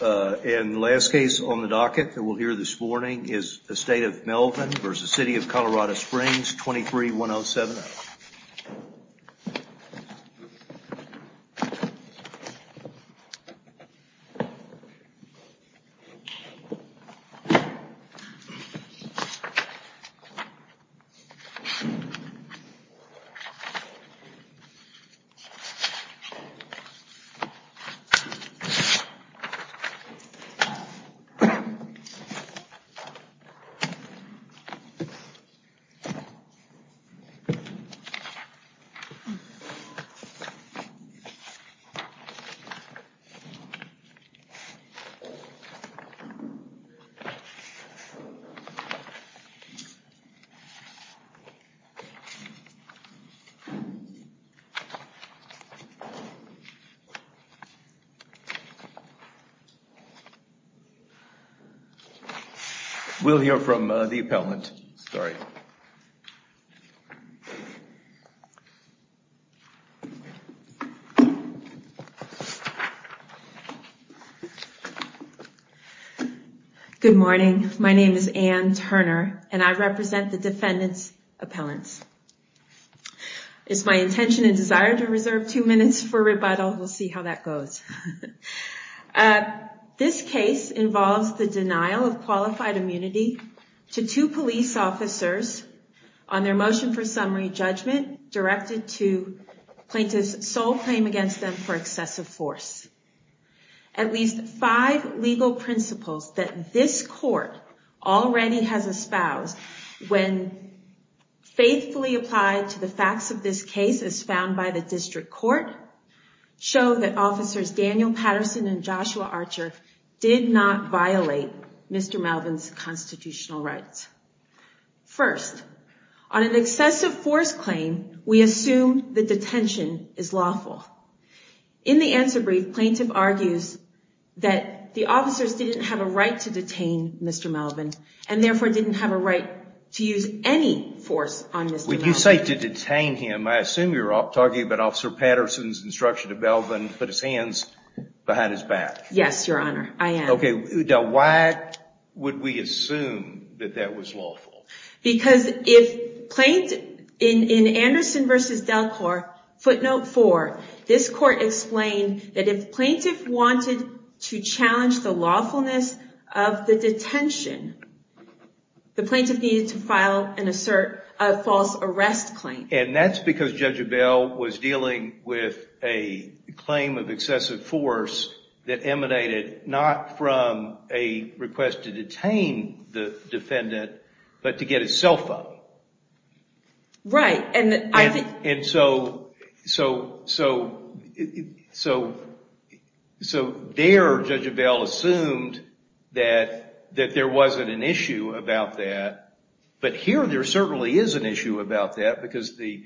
And the last case on the docket that we'll hear this morning is the State of Melvin v. City of Colorado Springs, 23107. And the last case on the docket that we'll hear this morning is the State of Melvin v. City of Colorado Springs, 23107. And the last case on the docket that we'll hear this morning is the State of Melvin v. City of Colorado Springs, 23107. We'll hear from the appellant. We'll hear from the appellant. Good morning. My name is Ann Turner, and I represent the defendant's appellants. It's my intention and desire to reserve two minutes for rebuttal. We'll see how that goes. It's my intention and desire to reserve two minutes for rebuttal. We'll see how that goes. This case involves the denial of qualified immunity to two police officers on their motion for summary judgment directed to plaintiffs sole claim against them for excessive force. At least five legal principles that this court already has espoused when faithfully applied to the facts of this case as found by the district court show that officers Daniel Patterson and Joshua Archer did not violate Mr. Melvin's constitutional rights. First, on an excessive force claim, we assume that detention is lawful. In the answer brief, plaintiff argues that the officers didn't have a right to detain Mr. Melvin, and therefore didn't have a right to use any force on Mr. Melvin. When you say to detain him, I assume you're talking about Officer Patterson's instruction to Melvin to put his hands behind his back. Yes, Your Honor, I am. Why would we assume that that was lawful? Because in Anderson v. Delcor, footnote four, this court explained that if plaintiff wanted to challenge the lawfulness of the detention, the plaintiff needed to file a false arrest claim. That's because Judge Abell was dealing with a claim of excessive force that emanated not from a request to detain the defendant, but to get his cell phone. Right. And so there, Judge Abell assumed that there wasn't an issue about that. But here, there certainly is an issue about that, because the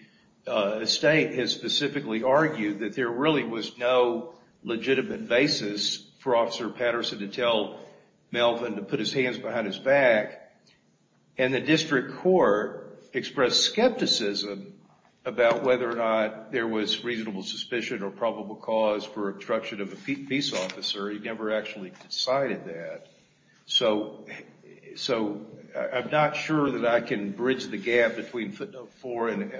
state has specifically argued that there really was no legitimate basis for Officer Patterson to tell Melvin to put his hands behind his back. And the district court expressed skepticism about whether or not there was reasonable suspicion or probable cause for obstruction of a peace officer. He never actually decided that. So I'm not sure that I can bridge the gap between footnote four and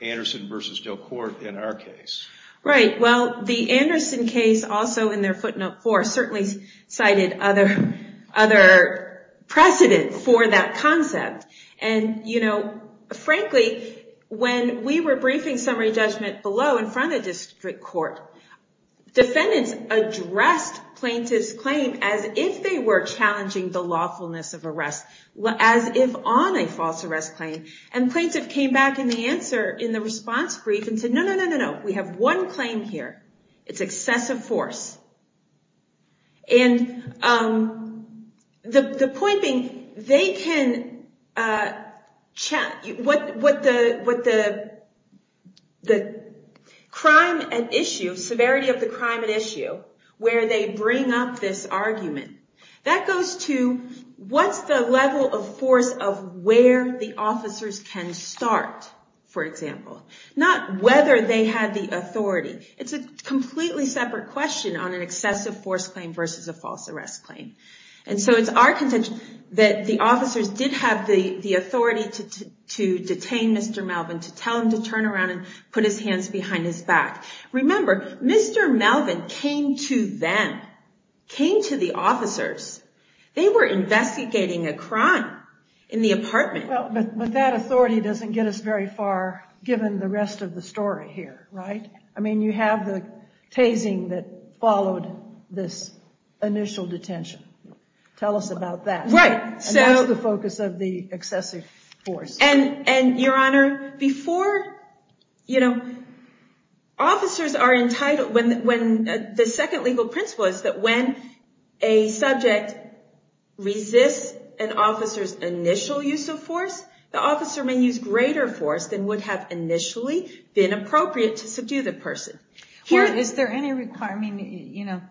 Anderson v. Delcor in our case. Right. Well, the Anderson case, also in their footnote four, certainly cited other precedent for that concept. And frankly, when we were briefing summary judgment below in front of district court, defendants addressed plaintiff's claim as if they were challenging the lawfulness of arrest, as if on a false arrest claim. And plaintiff came back in the response brief and said, no, no, no, no, no. We have one claim here. It's excessive force. And the point being, they can check what the crime at issue, severity of the crime at issue, where they bring up this argument. That goes to what's the level of force of where the officers can start, for example. Not whether they had the authority. It's a completely separate question on an excessive force claim versus a false arrest claim. And so it's our contention that the officers did have the authority to detain Mr. Melvin, to tell him to turn around and put his hands behind his back. Remember, Mr. Melvin came to them, came to the officers. They were investigating a crime in the apartment. But that authority doesn't get us very far, given the rest of the story here, right? I mean, you have the tasing that followed this initial detention. Tell us about that. Right. So the focus of the excessive force. And Your Honor, before officers are entitled, the second legal principle is that when a subject resists an officer's initial use of force, the officer may use greater force than would have initially been appropriate to subdue the person. Is there any requirement?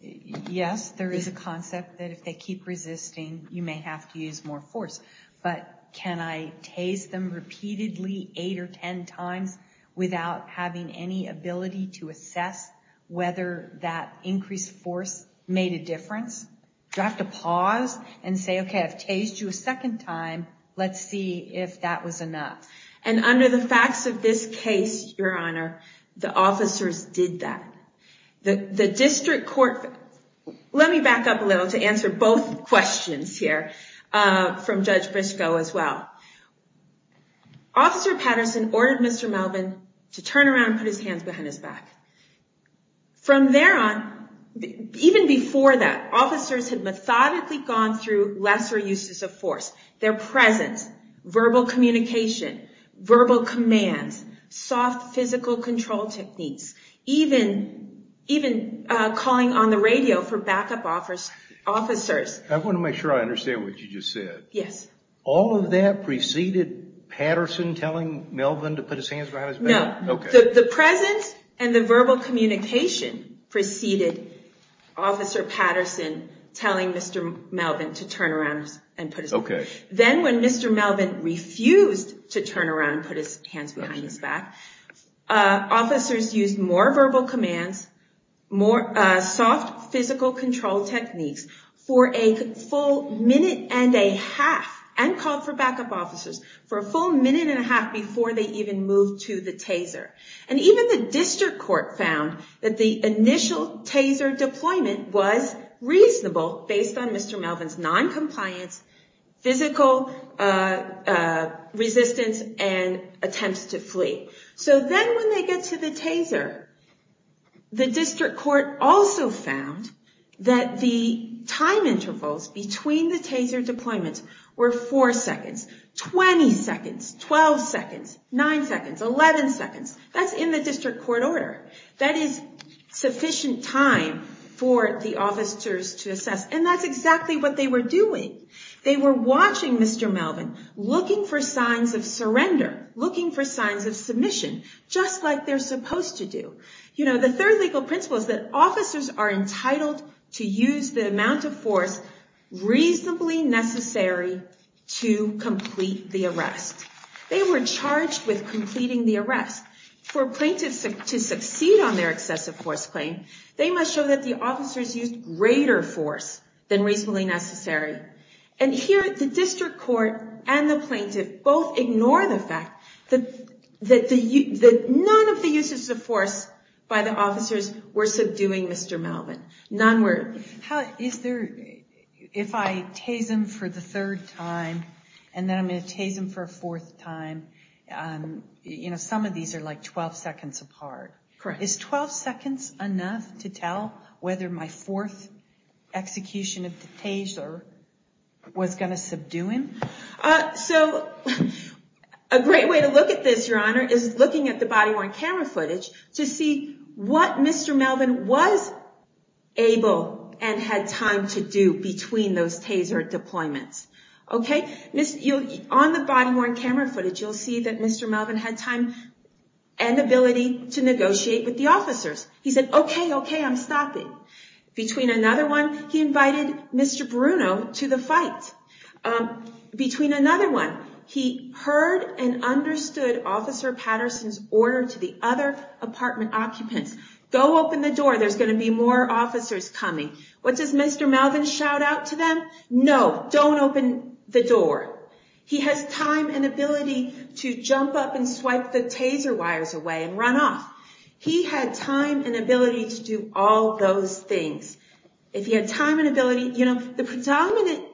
Yes, there is a concept that if they keep resisting, you may have to use more force. But can I tase them repeatedly, eight or 10 times, without having any ability to assess whether that increased force made a difference? Do I have to pause and say, OK, I've tased you a second time. Let's see if that was enough. And under the facts of this case, Your Honor, the officers did that. The district court, let me back up a little to answer both questions here from Judge Briscoe as well. Officer Patterson ordered Mr. Melvin to turn around and put his hands behind his back. From there on, even before that, officers had methodically gone through lesser uses of force. Their presence, verbal communication, verbal commands, soft physical control techniques, even calling on the radio for backup officers. I want to make sure I understand what you just said. Yes. All of that preceded Patterson telling Melvin to put his hands behind his back? No. OK. The presence and the verbal communication preceded Officer Patterson telling Mr. Melvin to turn around and put his hands behind his back. OK. Then when Mr. Melvin refused to turn around and put his hands behind his back, officers used more verbal commands, soft physical control techniques, for a full minute and a half, and called for backup officers, for a full minute and a half before they even moved to the taser. And even the district court found that the initial taser deployment was reasonable based on Mr. Melvin's noncompliance, physical resistance, and attempts to flee. So then when they get to the taser, the district court also found that the time intervals between the taser deployments were 4 seconds, 20 seconds, 12 seconds, 9 seconds, 11 seconds. That's in the district court order. That is sufficient time for the officers to assess. And that's exactly what they were doing. They were watching Mr. Melvin, looking for signs of surrender, looking for signs of submission, just like they're supposed to do. The third legal principle is that officers are entitled to use the amount of force reasonably necessary to complete the arrest. They were charged with completing the arrest. For plaintiffs to succeed on their excessive force claim, they must show that the officers used greater force than reasonably necessary. And here, the district court and the plaintiff both ignore the fact that none of the uses of force by the officers were subduing Mr. Melvin. None were. If I tase him for the third time, and then I'm going to tase him for a fourth time, some of these are like 12 seconds apart. Correct. Is 12 seconds enough to tell whether my fourth execution of the taser was going to subdue him? A great way to look at this, Your Honor, is looking at the body-worn camera footage to see what Mr. Melvin was able and had time to do between those taser deployments. On the body-worn camera footage, you'll see that Mr. Melvin had time and ability to negotiate with the officers. He said, okay, okay, I'm stopping. Between another one, he invited Mr. Bruno to the fight. Between another one, he heard and understood Officer Patterson's order to the other apartment occupants. Go open the door, there's going to be more officers coming. What does Mr. Melvin shout out to them? No, don't open the door. He has time and ability to jump up and swipe the taser wires away and run off. He had time and ability to do all those things. The predominant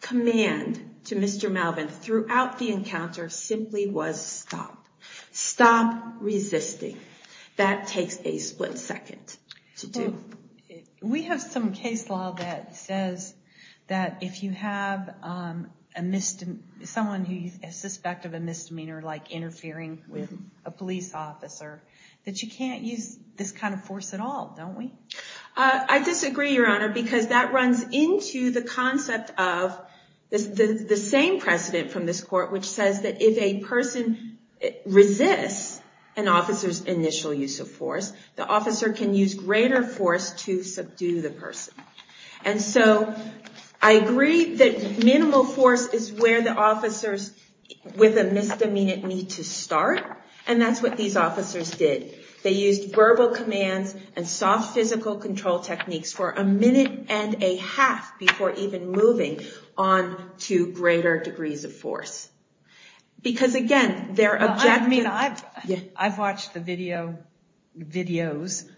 command to Mr. Melvin throughout the encounter simply was stop. Stop resisting. That takes a split second to do. We have some case law that says that if you have someone who is suspected of a misdemeanor, like interfering with a police officer, that you can't use this kind of force at all, don't we? I disagree, Your Honor, because that runs into the concept of the same precedent from this court, which says that if a person resists an officer's initial use of force, the officer can use greater force to subdue the person. And so, I agree that minimal force is where the officers with a misdemeanor need to start, and that's what these officers did. They used verbal commands and soft physical control techniques for a minute and a half before even moving on to greater degrees of force. I've watched the videos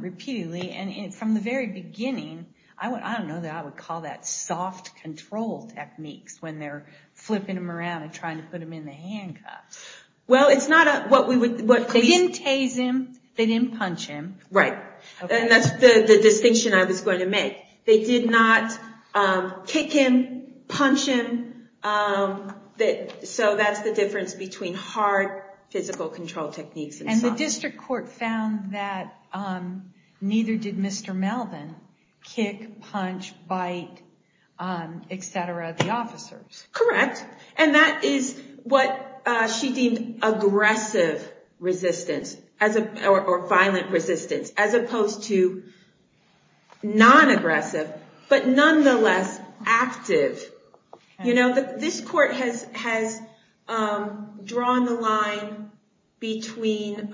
repeatedly, and from the very beginning, I don't know that I would call that soft control techniques when they're flipping them around and trying to put them in the handcuffs. They didn't tase him, they didn't punch him. Right, and that's the distinction I was going to make. They did not kick him, punch him, so that's the difference between hard physical control techniques. And the district court found that neither did Mr. Melvin kick, punch, bite, etc. the officers. Correct, and that is what she deemed aggressive resistance, or violent resistance, as opposed to non-aggressive, but nonetheless active. This court has drawn the line between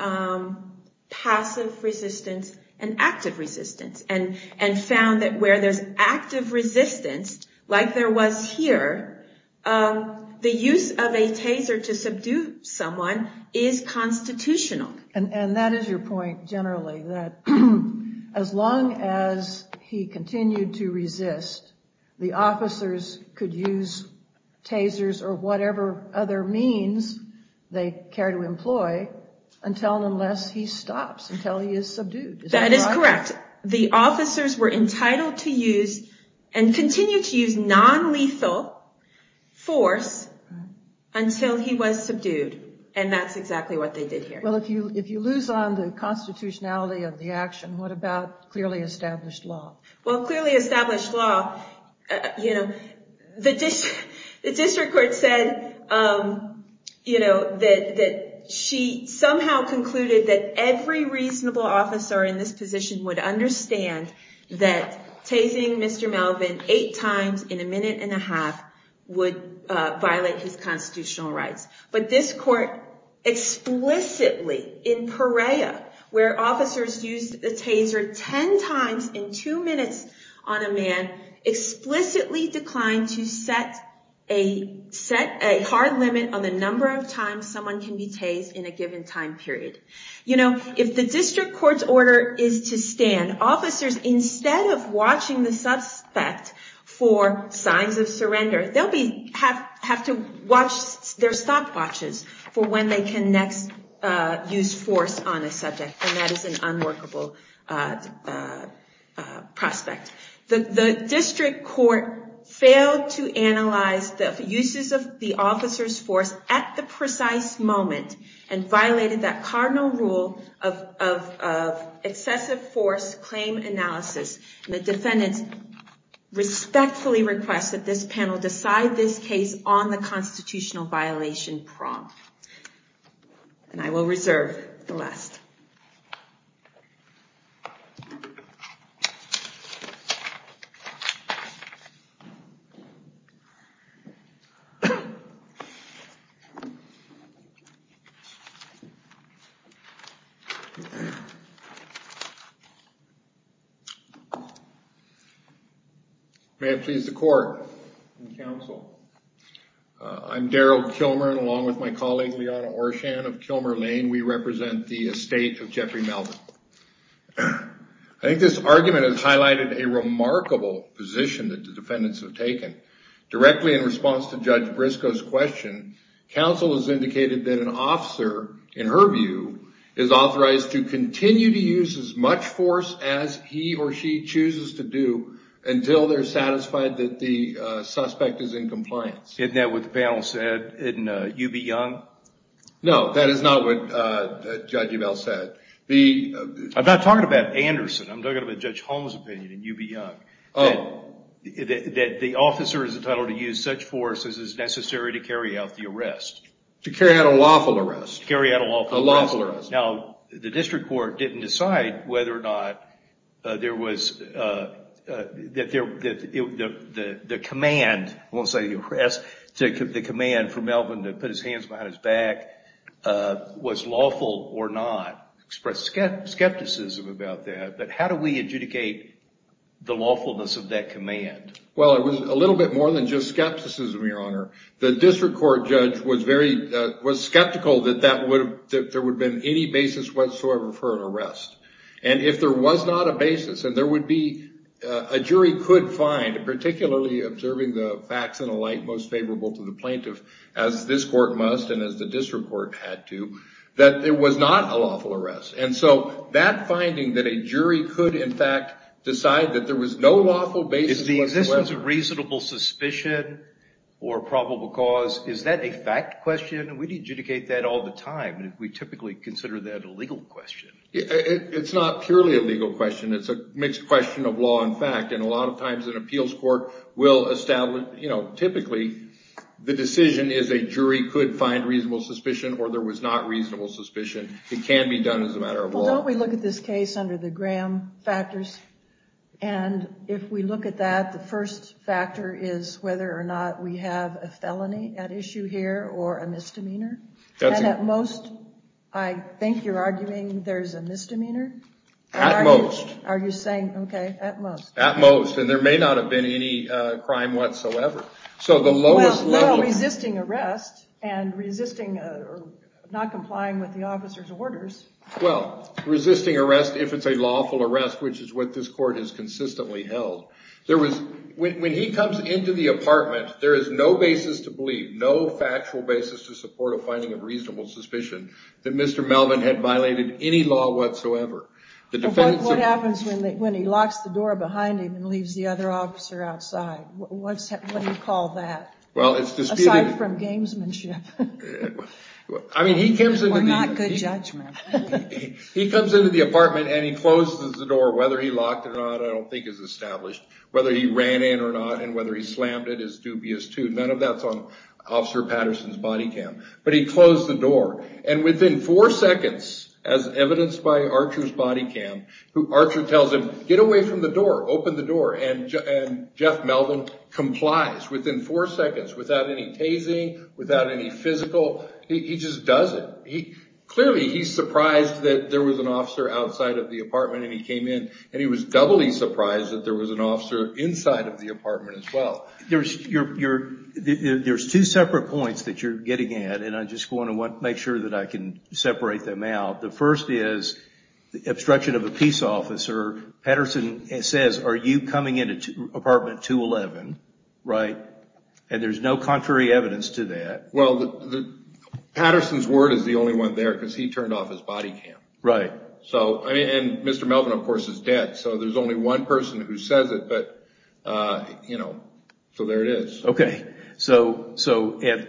passive resistance and active resistance, and found that where there's active resistance, like there was here, the use of a taser to subdue someone is constitutional. And that is your point, generally, that as long as he continued to resist, the officers could use tasers or whatever other means they care to employ, unless he stops, until he is subdued. That is correct. The officers were entitled to use, and continued to use, non-lethal force until he was subdued, and that's exactly what they did here. Well, if you lose on the constitutionality of the action, what about clearly established law? Well, clearly established law, the district court said that she somehow concluded that every reasonable officer in this position would understand that tasing Mr. Melvin eight times in a minute and a half would violate his constitutional rights. But this court explicitly, in Perea, where officers used the taser ten times in two minutes on a man, explicitly declined to set a hard limit on the number of times someone can be tased in a given time period. You know, if the district court's order is to stand, officers, instead of watching the suspect for signs of surrender, they'll have to watch their stopwatches for when they can next use force on a subject, and that is an unworkable prospect. The district court failed to analyze the uses of the officer's force at the precise moment, and violated that cardinal rule of excessive force claim analysis. The defendant respectfully requests that this panel decide this case on the constitutional violation prompt. And I will reserve the last. May it please the court and counsel, I'm Darrell Kilmer, along with my colleague, Liana Orshan of Kilmer Lane. We represent the estate of Jeffrey Melvin. I think this argument has highlighted a remarkable position that the defendants have taken. Directly in response to Judge Briscoe's question, counsel has indicated that an officer, in her view, is authorized to continue to use as much force as he or she chooses to do until they're satisfied that the suspect is in compliance. Isn't that what the panel said in UB Young? No, that is not what Judge Ubell said. I'm not talking about Anderson. I'm talking about Judge Holmes' opinion in UB Young. Oh. That the officer is entitled to use such force as is necessary to carry out the arrest. To carry out a lawful arrest. To carry out a lawful arrest. A lawful arrest. Now, the district court didn't decide whether or not the command, I won't say arrest, the command for Melvin to put his hands behind his back was lawful or not. Expressed skepticism about that. But how do we adjudicate the lawfulness of that command? Well, it was a little bit more than just skepticism, Your Honor. The district court judge was skeptical that there would have been any basis whatsoever for an arrest. And if there was not a basis, and there would be, a jury could find, particularly observing the facts and the like most favorable to the plaintiff, as this court must and as the district court had to, that there was not a lawful arrest. And so that finding that a jury could in fact decide that there was no lawful basis whatsoever. Is the existence of reasonable suspicion or probable cause, is that a fact question? We adjudicate that all the time. We typically consider that a legal question. It's not purely a legal question. It's a mixed question of law and fact. And a lot of times an appeals court will establish, typically, the decision is a jury could find reasonable suspicion or there was not reasonable suspicion. It can be done as a matter of law. Well, don't we look at this case under the Graham factors? And if we look at that, the first factor is whether or not we have a felony at issue here or a misdemeanor. And at most, I think you're arguing there's a misdemeanor? At most. Are you saying, okay, at most. At most. And there may not have been any crime whatsoever. Well, resisting arrest and resisting or not complying with the officer's orders. Well, resisting arrest if it's a lawful arrest, which is what this court has consistently held. When he comes into the apartment, there is no basis to believe, no factual basis to support a finding of reasonable suspicion that Mr. Melvin had violated any law whatsoever. What happens when he locks the door behind him and leaves the other officer outside? What do you call that? Well, it's disputed. Aside from gamesmanship. I mean, he comes into the. Or not good judgment. He comes into the apartment and he closes the door, whether he locked it or not, I don't think is established. Whether he ran in or not and whether he slammed it is dubious, too. None of that's on Officer Patterson's body cam. But he closed the door. And within four seconds, as evidenced by Archer's body cam, Archer tells him, get away from the door. Open the door. And Jeff Melvin complies within four seconds without any tasing, without any physical. He just does it. Clearly, he's surprised that there was an officer outside of the apartment and he came in and he was doubly surprised that there was an officer inside of the apartment as well. There's two separate points that you're getting at, and I just want to make sure that I can separate them out. The first is the obstruction of a peace officer. Patterson says, are you coming into apartment 211? Right. And there's no contrary evidence to that. Well, Patterson's word is the only one there because he turned off his body cam. Right. So and Mr. Melvin, of course, is dead. So there's only one person who says it, but, you know, so there it is. OK. So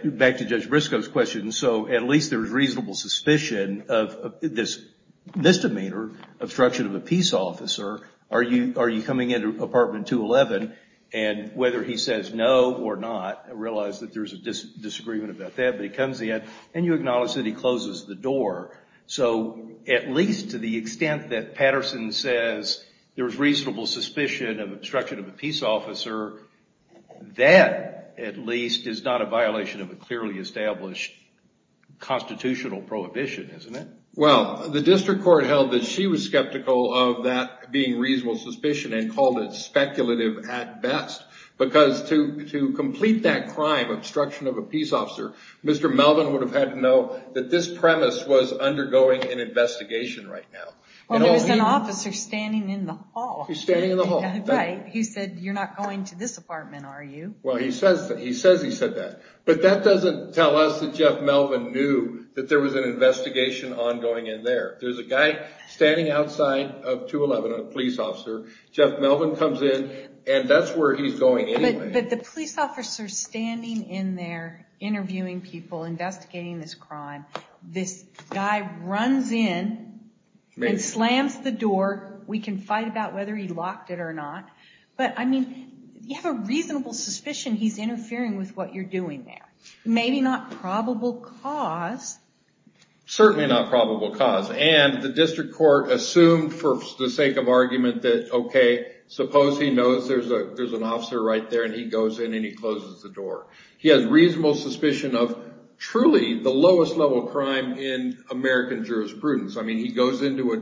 back to Judge Briscoe's question. So at least there's reasonable suspicion of this misdemeanor obstruction of a peace officer. Are you are you coming into apartment 211? And whether he says no or not, I realize that there's a disagreement about that, but he comes in and you acknowledge that he closes the door. So at least to the extent that Patterson says there is reasonable suspicion of obstruction of a peace officer, that at least is not a violation of a clearly established constitutional prohibition, isn't it? Well, the district court held that she was skeptical of that being reasonable suspicion and called it speculative at best. Because to to complete that crime obstruction of a peace officer, Mr. Melvin would have had to know that this premise was undergoing an investigation right now. Well, there's an officer standing in the hall. He's standing in the hall. He said, you're not going to this apartment, are you? Well, he says that he says he said that. But that doesn't tell us that Jeff Melvin knew that there was an investigation ongoing in there. There's a guy standing outside of 211, a police officer. Jeff Melvin comes in and that's where he's going anyway. But the police officer standing in there interviewing people investigating this crime, this guy runs in and slams the door. We can fight about whether he locked it or not. But I mean, you have a reasonable suspicion he's interfering with what you're doing there. Maybe not probable cause. Certainly not probable cause. And the district court assumed for the sake of argument that, OK, suppose he knows there's a there's an officer right there and he goes in and he closes the door. He has reasonable suspicion of truly the lowest level of crime in American jurisprudence. I mean, he goes into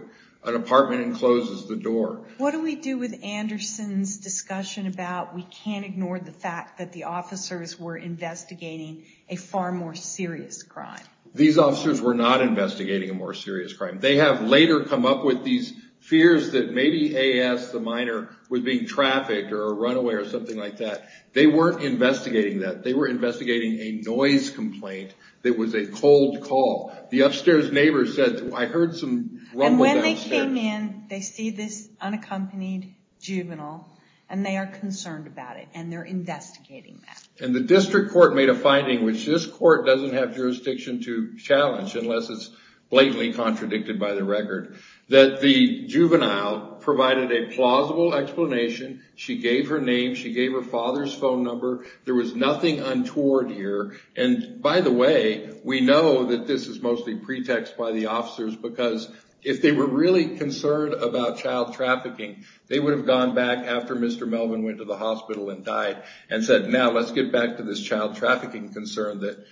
an apartment and closes the door. What do we do with Anderson's discussion about we can't ignore the fact that the officers were investigating a far more serious crime? These officers were not investigating a more serious crime. They have later come up with these fears that maybe A.S., the minor, was being trafficked or a runaway or something like that. They weren't investigating that. They were investigating a noise complaint that was a cold call. The upstairs neighbor said, I heard some rumbling downstairs. And when they came in, they see this unaccompanied juvenile and they are concerned about it and they're investigating that. And the district court made a finding, which this court doesn't have jurisdiction to challenge unless it's blatantly contradicted by the record, that the juvenile provided a plausible explanation. She gave her name. She gave her father's phone number. There was nothing untoward here. And by the way, we know that this is mostly pretext by the officers, because if they were really concerned about child trafficking, they would have gone back after Mr. Melvin went to the hospital and died and said, now let's get back to this child trafficking concern that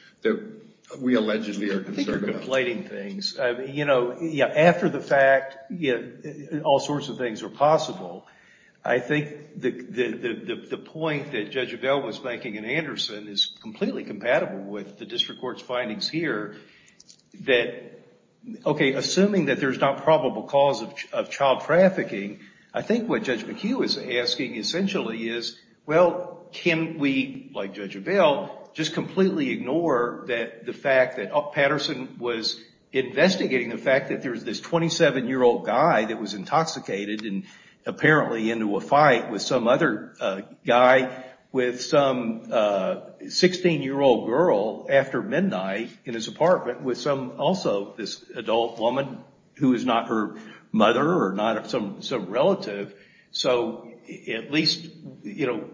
we allegedly are concerned about. I think you're conflating things. You know, after the fact, all sorts of things are possible. I think the point that Judge Avell was making in Anderson is completely compatible with the district court's findings here. OK, assuming that there's not probable cause of child trafficking, I think what Judge McHugh is asking essentially is, well, can we, like Judge Avell, just completely ignore the fact that Patterson was investigating the fact that there's this 27-year-old guy that was intoxicated and apparently into a fight with some other guy, with some 16-year-old girl after midnight in his apartment, with also this adult woman who is not her mother or not some relative? So at least, you know,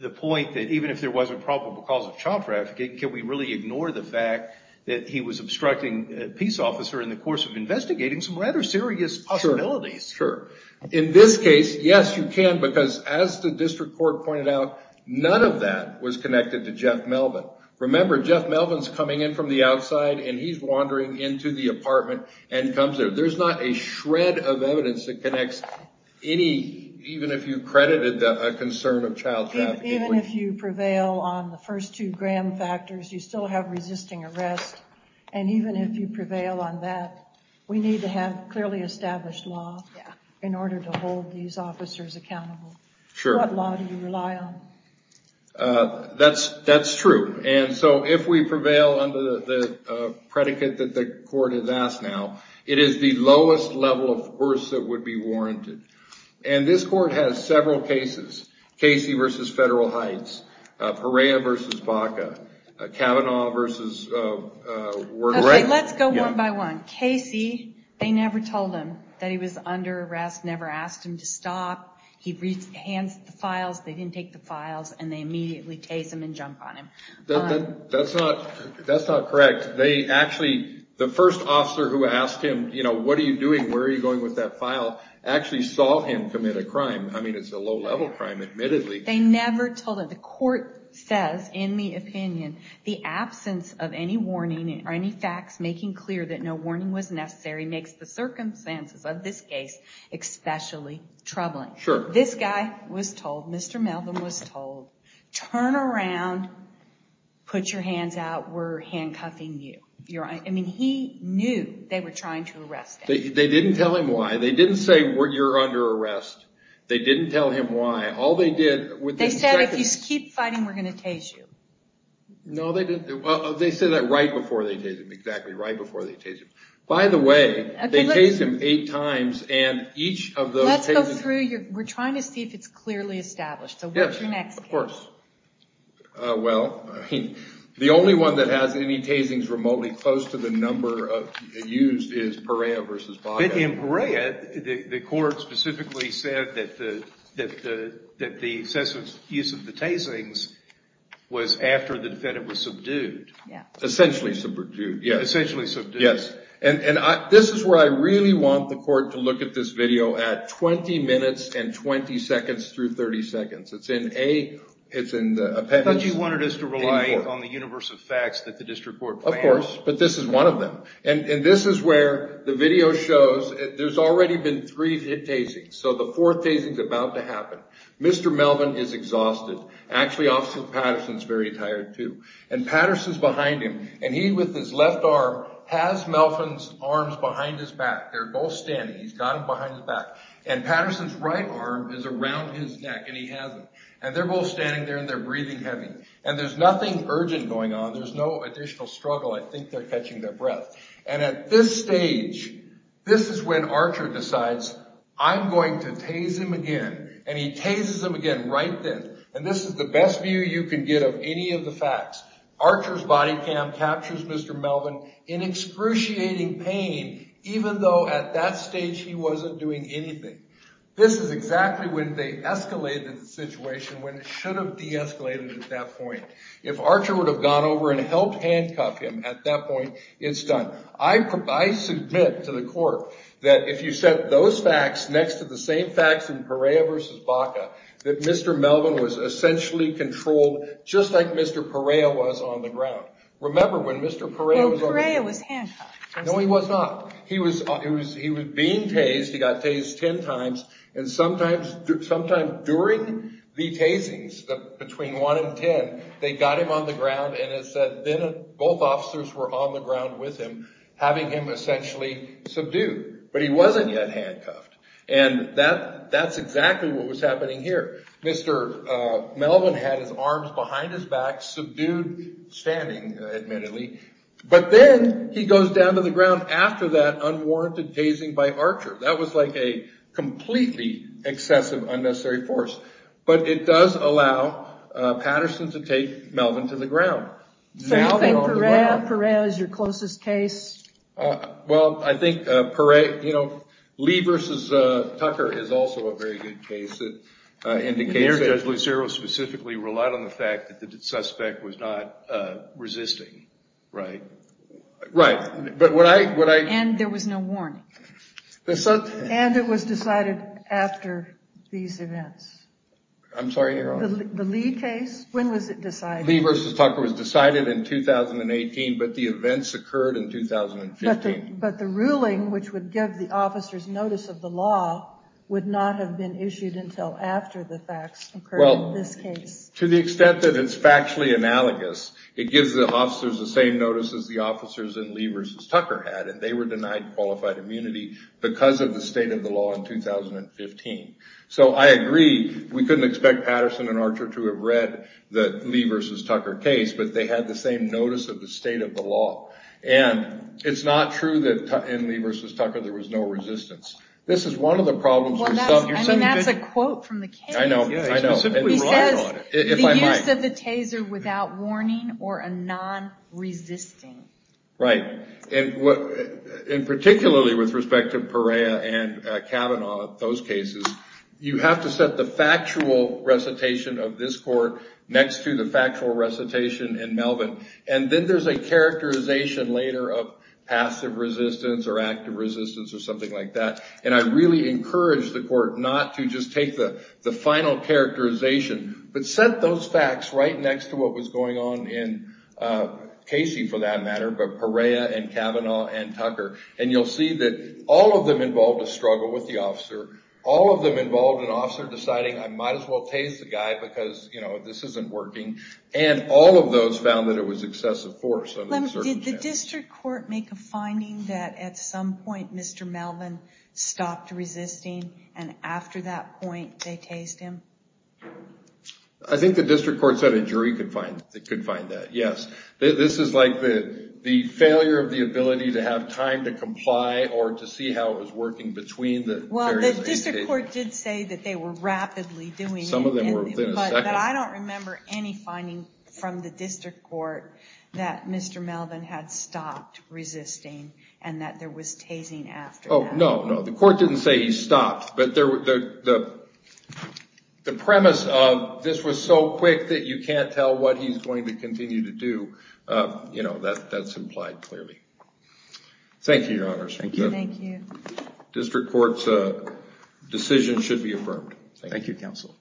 the point that even if there was a probable cause of child trafficking, can we really ignore the fact that he was obstructing a peace officer in the course of investigating some rather serious possibilities? Sure. In this case, yes, you can, because as the district court pointed out, none of that was connected to Jeff Melvin. Remember, Jeff Melvin's coming in from the outside and he's wandering into the apartment and comes there. There's not a shred of evidence that connects any, even if you credited a concern of child trafficking. Even if you prevail on the first two Graham factors, you still have resisting arrest. And even if you prevail on that, we need to have clearly established law in order to hold these officers accountable. Sure. What law do you rely on? That's true. And so if we prevail under the predicate that the court has asked now, it is the lowest level of force that would be warranted. And this court has several cases, Casey v. Federal Heights, Perea v. Baca, Kavanaugh v. Wernick. Let's go one by one. Casey, they never told him that he was under arrest, never asked him to stop. He hands the files, they didn't take the files, and they immediately chase him and jump on him. That's not correct. They actually, the first officer who asked him, you know, what are you doing, where are you going with that file, actually saw him commit a crime. I mean, it's a low level crime, admittedly. They never told him. The court says, in the opinion, the absence of any warning or any facts making clear that no warning was necessary makes the circumstances of this case especially troubling. Sure. This guy was told, Mr. Melvin was told, turn around, put your hands out, we're handcuffing you. I mean, he knew they were trying to arrest him. They didn't tell him why. They didn't say you're under arrest. They didn't tell him why. They said if you keep fighting, we're going to tase you. No, they didn't. They said that right before they tased him, exactly right before they tased him. By the way, they tased him eight times, and each of those tasings... Let's go through, we're trying to see if it's clearly established. So what's your next case? Well, the only one that has any tasings remotely close to the number used is Perea v. Baja. In Perea, the court specifically said that the use of the tasings was after the defendant was subdued. Essentially subdued, yes. And this is where I really want the court to look at this video at 20 minutes and 20 seconds through 30 seconds. I thought you wanted us to rely on the universe of facts that the district court plans. Of course, but this is one of them. And this is where the video shows... There's already been three hit tasings, so the fourth tasing is about to happen. Mr. Melvin is exhausted. Actually, Officer Patterson's very tired, too. And Patterson's behind him, and he, with his left arm, has Melvin's arms behind his back. They're both standing. He's got them behind his back. And Patterson's right arm is around his neck, and he has them. And they're both standing there, and they're breathing heavy. And there's nothing urgent going on. There's no additional struggle. I think they're catching their breath. And at this stage, this is when Archer decides, I'm going to tase him again. And he tases him again right then. And this is the best view you can get of any of the facts. Archer's body cam captures Mr. Melvin in excruciating pain, even though at that stage he wasn't doing anything. This is exactly when they escalated the situation, when it should have de-escalated at that point. If Archer would have gone over and helped handcuff him at that point, it's done. I submit to the court that if you set those facts next to the same facts in Perea v. Baca, that Mr. Melvin was essentially controlled just like Mr. Perea was on the ground. Remember when Mr. Perea was on the ground. Well, Perea was handcuffed. No, he was not. He was being tased. He got tased ten times. And sometime during the tasings, between one and ten, they got him on the ground. And then both officers were on the ground with him, having him essentially subdued. But he wasn't yet handcuffed. And that's exactly what was happening here. Mr. Melvin had his arms behind his back, subdued, standing, admittedly. But then he goes down to the ground after that unwarranted tasing by Archer. That was like a completely excessive, unnecessary force. But it does allow Patterson to take Melvin to the ground. So you think Perea is your closest case? Well, I think Perea, you know, Lee v. Tucker is also a very good case. And Judge Lucero specifically relied on the fact that the suspect was not resisting, right? Right. And there was no warning. And it was decided after these events. I'm sorry, Your Honor. The Lee case, when was it decided? Lee v. Tucker was decided in 2018, but the events occurred in 2015. But the ruling, which would give the officers notice of the law, would not have been issued until after the facts occurred in this case. Well, to the extent that it's factually analogous, it gives the officers the same notice as the officers in Lee v. Tucker had. And they were denied qualified immunity because of the state of the law in 2015. So I agree. We couldn't expect Patterson and Archer to have read the Lee v. Tucker case, but they had the same notice of the state of the law. And it's not true that in Lee v. Tucker there was no resistance. This is one of the problems. I mean, that's a quote from the case. I know. He says the use of the taser without warning or a non-resisting. Right. And particularly with respect to Perea and Kavanaugh, those cases, you have to set the factual recitation of this court next to the factual recitation in Melvin. And then there's a characterization later of passive resistance or active resistance or something like that. And I really encourage the court not to just take the final characterization, but set those facts right next to what was going on in Casey, for that matter, but Perea and Kavanaugh and Tucker. And you'll see that all of them involved a struggle with the officer. All of them involved an officer deciding, I might as well tase the guy because this isn't working. And all of those found that it was excessive force. Did the district court make a finding that at some point Mr. Melvin stopped resisting and after that point they tased him? I think the district court said a jury could find that, yes. This is like the failure of the ability to have time to comply or to see how it was working between the various cases. Well, the district court did say that they were rapidly doing it. Some of them were within a second. But I don't remember any finding from the district court that Mr. Melvin had stopped resisting and that there was tasing after that. Oh, no, no. The court didn't say he stopped, but the premise of this was so quick that you can't tell what he's going to continue to do. That's implied clearly. Thank you, Your Honors. Thank you. District court's decision should be affirmed. Thank you, Counsel.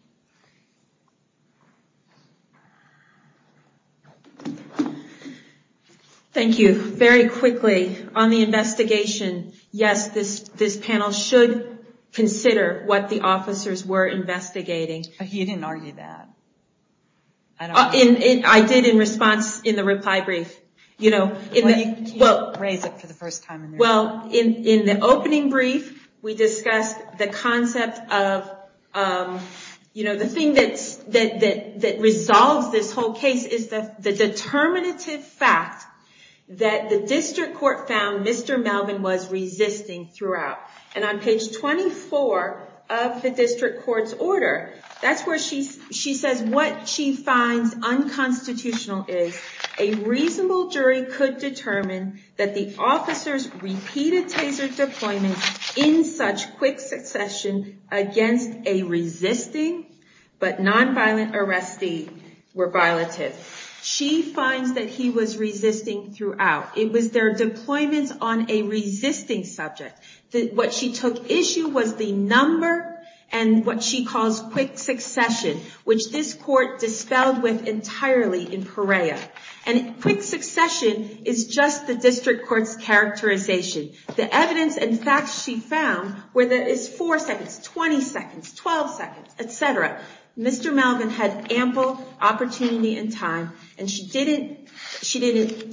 Thank you. Very quickly, on the investigation, yes, this panel should consider what the officers were investigating. You didn't argue that. I did in response in the reply brief. Well, you can't raise it for the first time. Well, in the opening brief, we discussed the concept of, the thing that resolves this whole case is the determinative fact that the district court found Mr. Melvin was resisting throughout. On page 24 of the district court's order, that's where she says what she finds unconstitutional is, a reasonable jury could determine that the officers repeated taser deployment in such quick succession against a resisting but nonviolent arrestee were violative. She finds that he was resisting throughout. It was their deployments on a resisting subject. What she took issue was the number and what she calls quick succession, which this court dispelled with entirely in Perea. And quick succession is just the district court's characterization. The evidence and facts she found were that it's four seconds, 20 seconds, 12 seconds, et cetera. Mr. Melvin had ample opportunity and time, and she didn't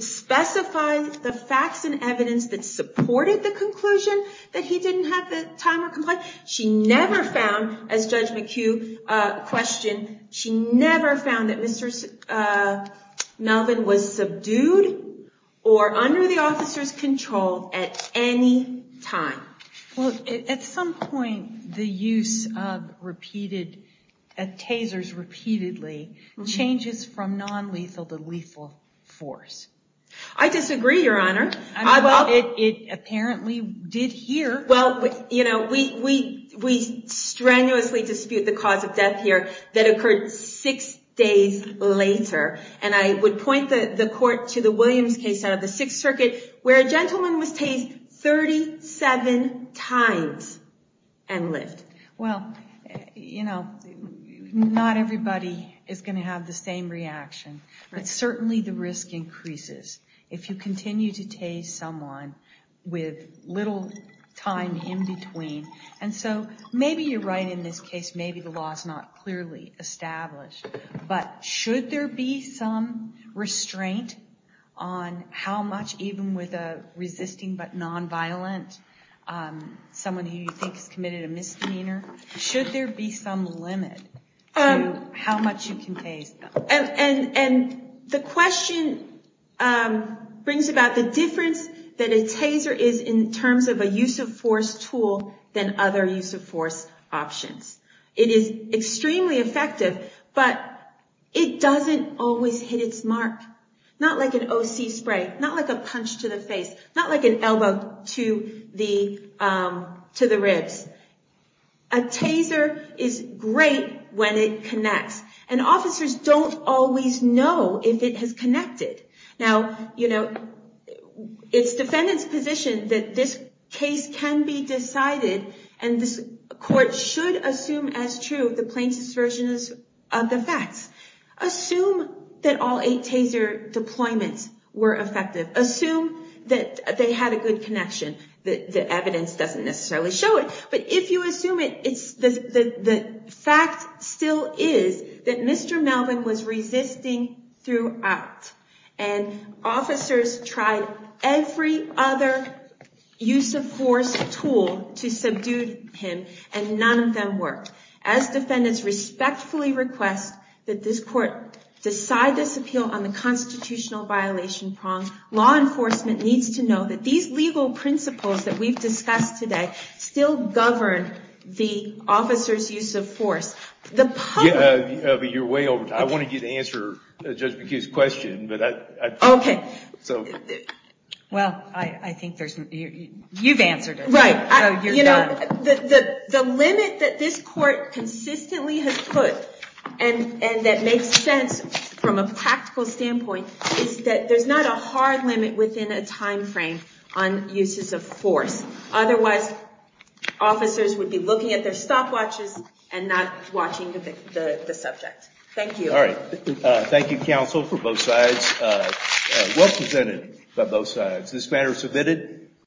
specify the facts and evidence that supported the conclusion that he didn't have the time or compliance. She never found, as Judge McHugh questioned, she never found that Mr. Melvin was subdued or under the officer's control at any time. Well, at some point, the use of tasers repeatedly changes from nonlethal to lethal force. I disagree, Your Honor. It apparently did here. Well, we strenuously dispute the cause of death here that occurred six days later. And I would point the court to the Williams case out of the Sixth Circuit where a gentleman was tased 37 times and lived. Well, you know, not everybody is going to have the same reaction. But certainly the risk increases if you continue to tase someone with little time in between. And so maybe you're right in this case. Maybe the law is not clearly established. But should there be some restraint on how much, even with a resisting but nonviolent, someone who you think has committed a misdemeanor, should there be some limit to how much you can tase? And the question brings about the difference that a taser is in terms of a use of force tool than other use of force options. It is extremely effective, but it doesn't always hit its mark. Not like an OC spray, not like a punch to the face, not like an elbow to the ribs. A taser is great when it connects. And officers don't always know if it has connected. Now, you know, it's defendant's position that this case can be decided and this court should assume as true the plaintiff's version of the facts. Assume that all eight taser deployments were effective. Assume that they had a good connection. The evidence doesn't necessarily show it. But if you assume it, the fact still is that Mr. Melvin was resisting throughout. And officers tried every other use of force tool to subdue him, and none of them worked. As defendants respectfully request that this court decide this appeal on the constitutional violation prong. Law enforcement needs to know that these legal principles that we've discussed today still govern the officer's use of force. You're way over. I wanted you to answer Judge McHugh's question. OK. Well, I think you've answered it. Right. You're done. The limit that this court consistently has put, and that makes sense from a practical standpoint, is that there's not a hard limit within a time frame on uses of force. Otherwise, officers would be looking at their stopwatches and not watching the subject. Thank you. All right. Thank you, counsel, for both sides. Well presented by both sides. This matter is submitted.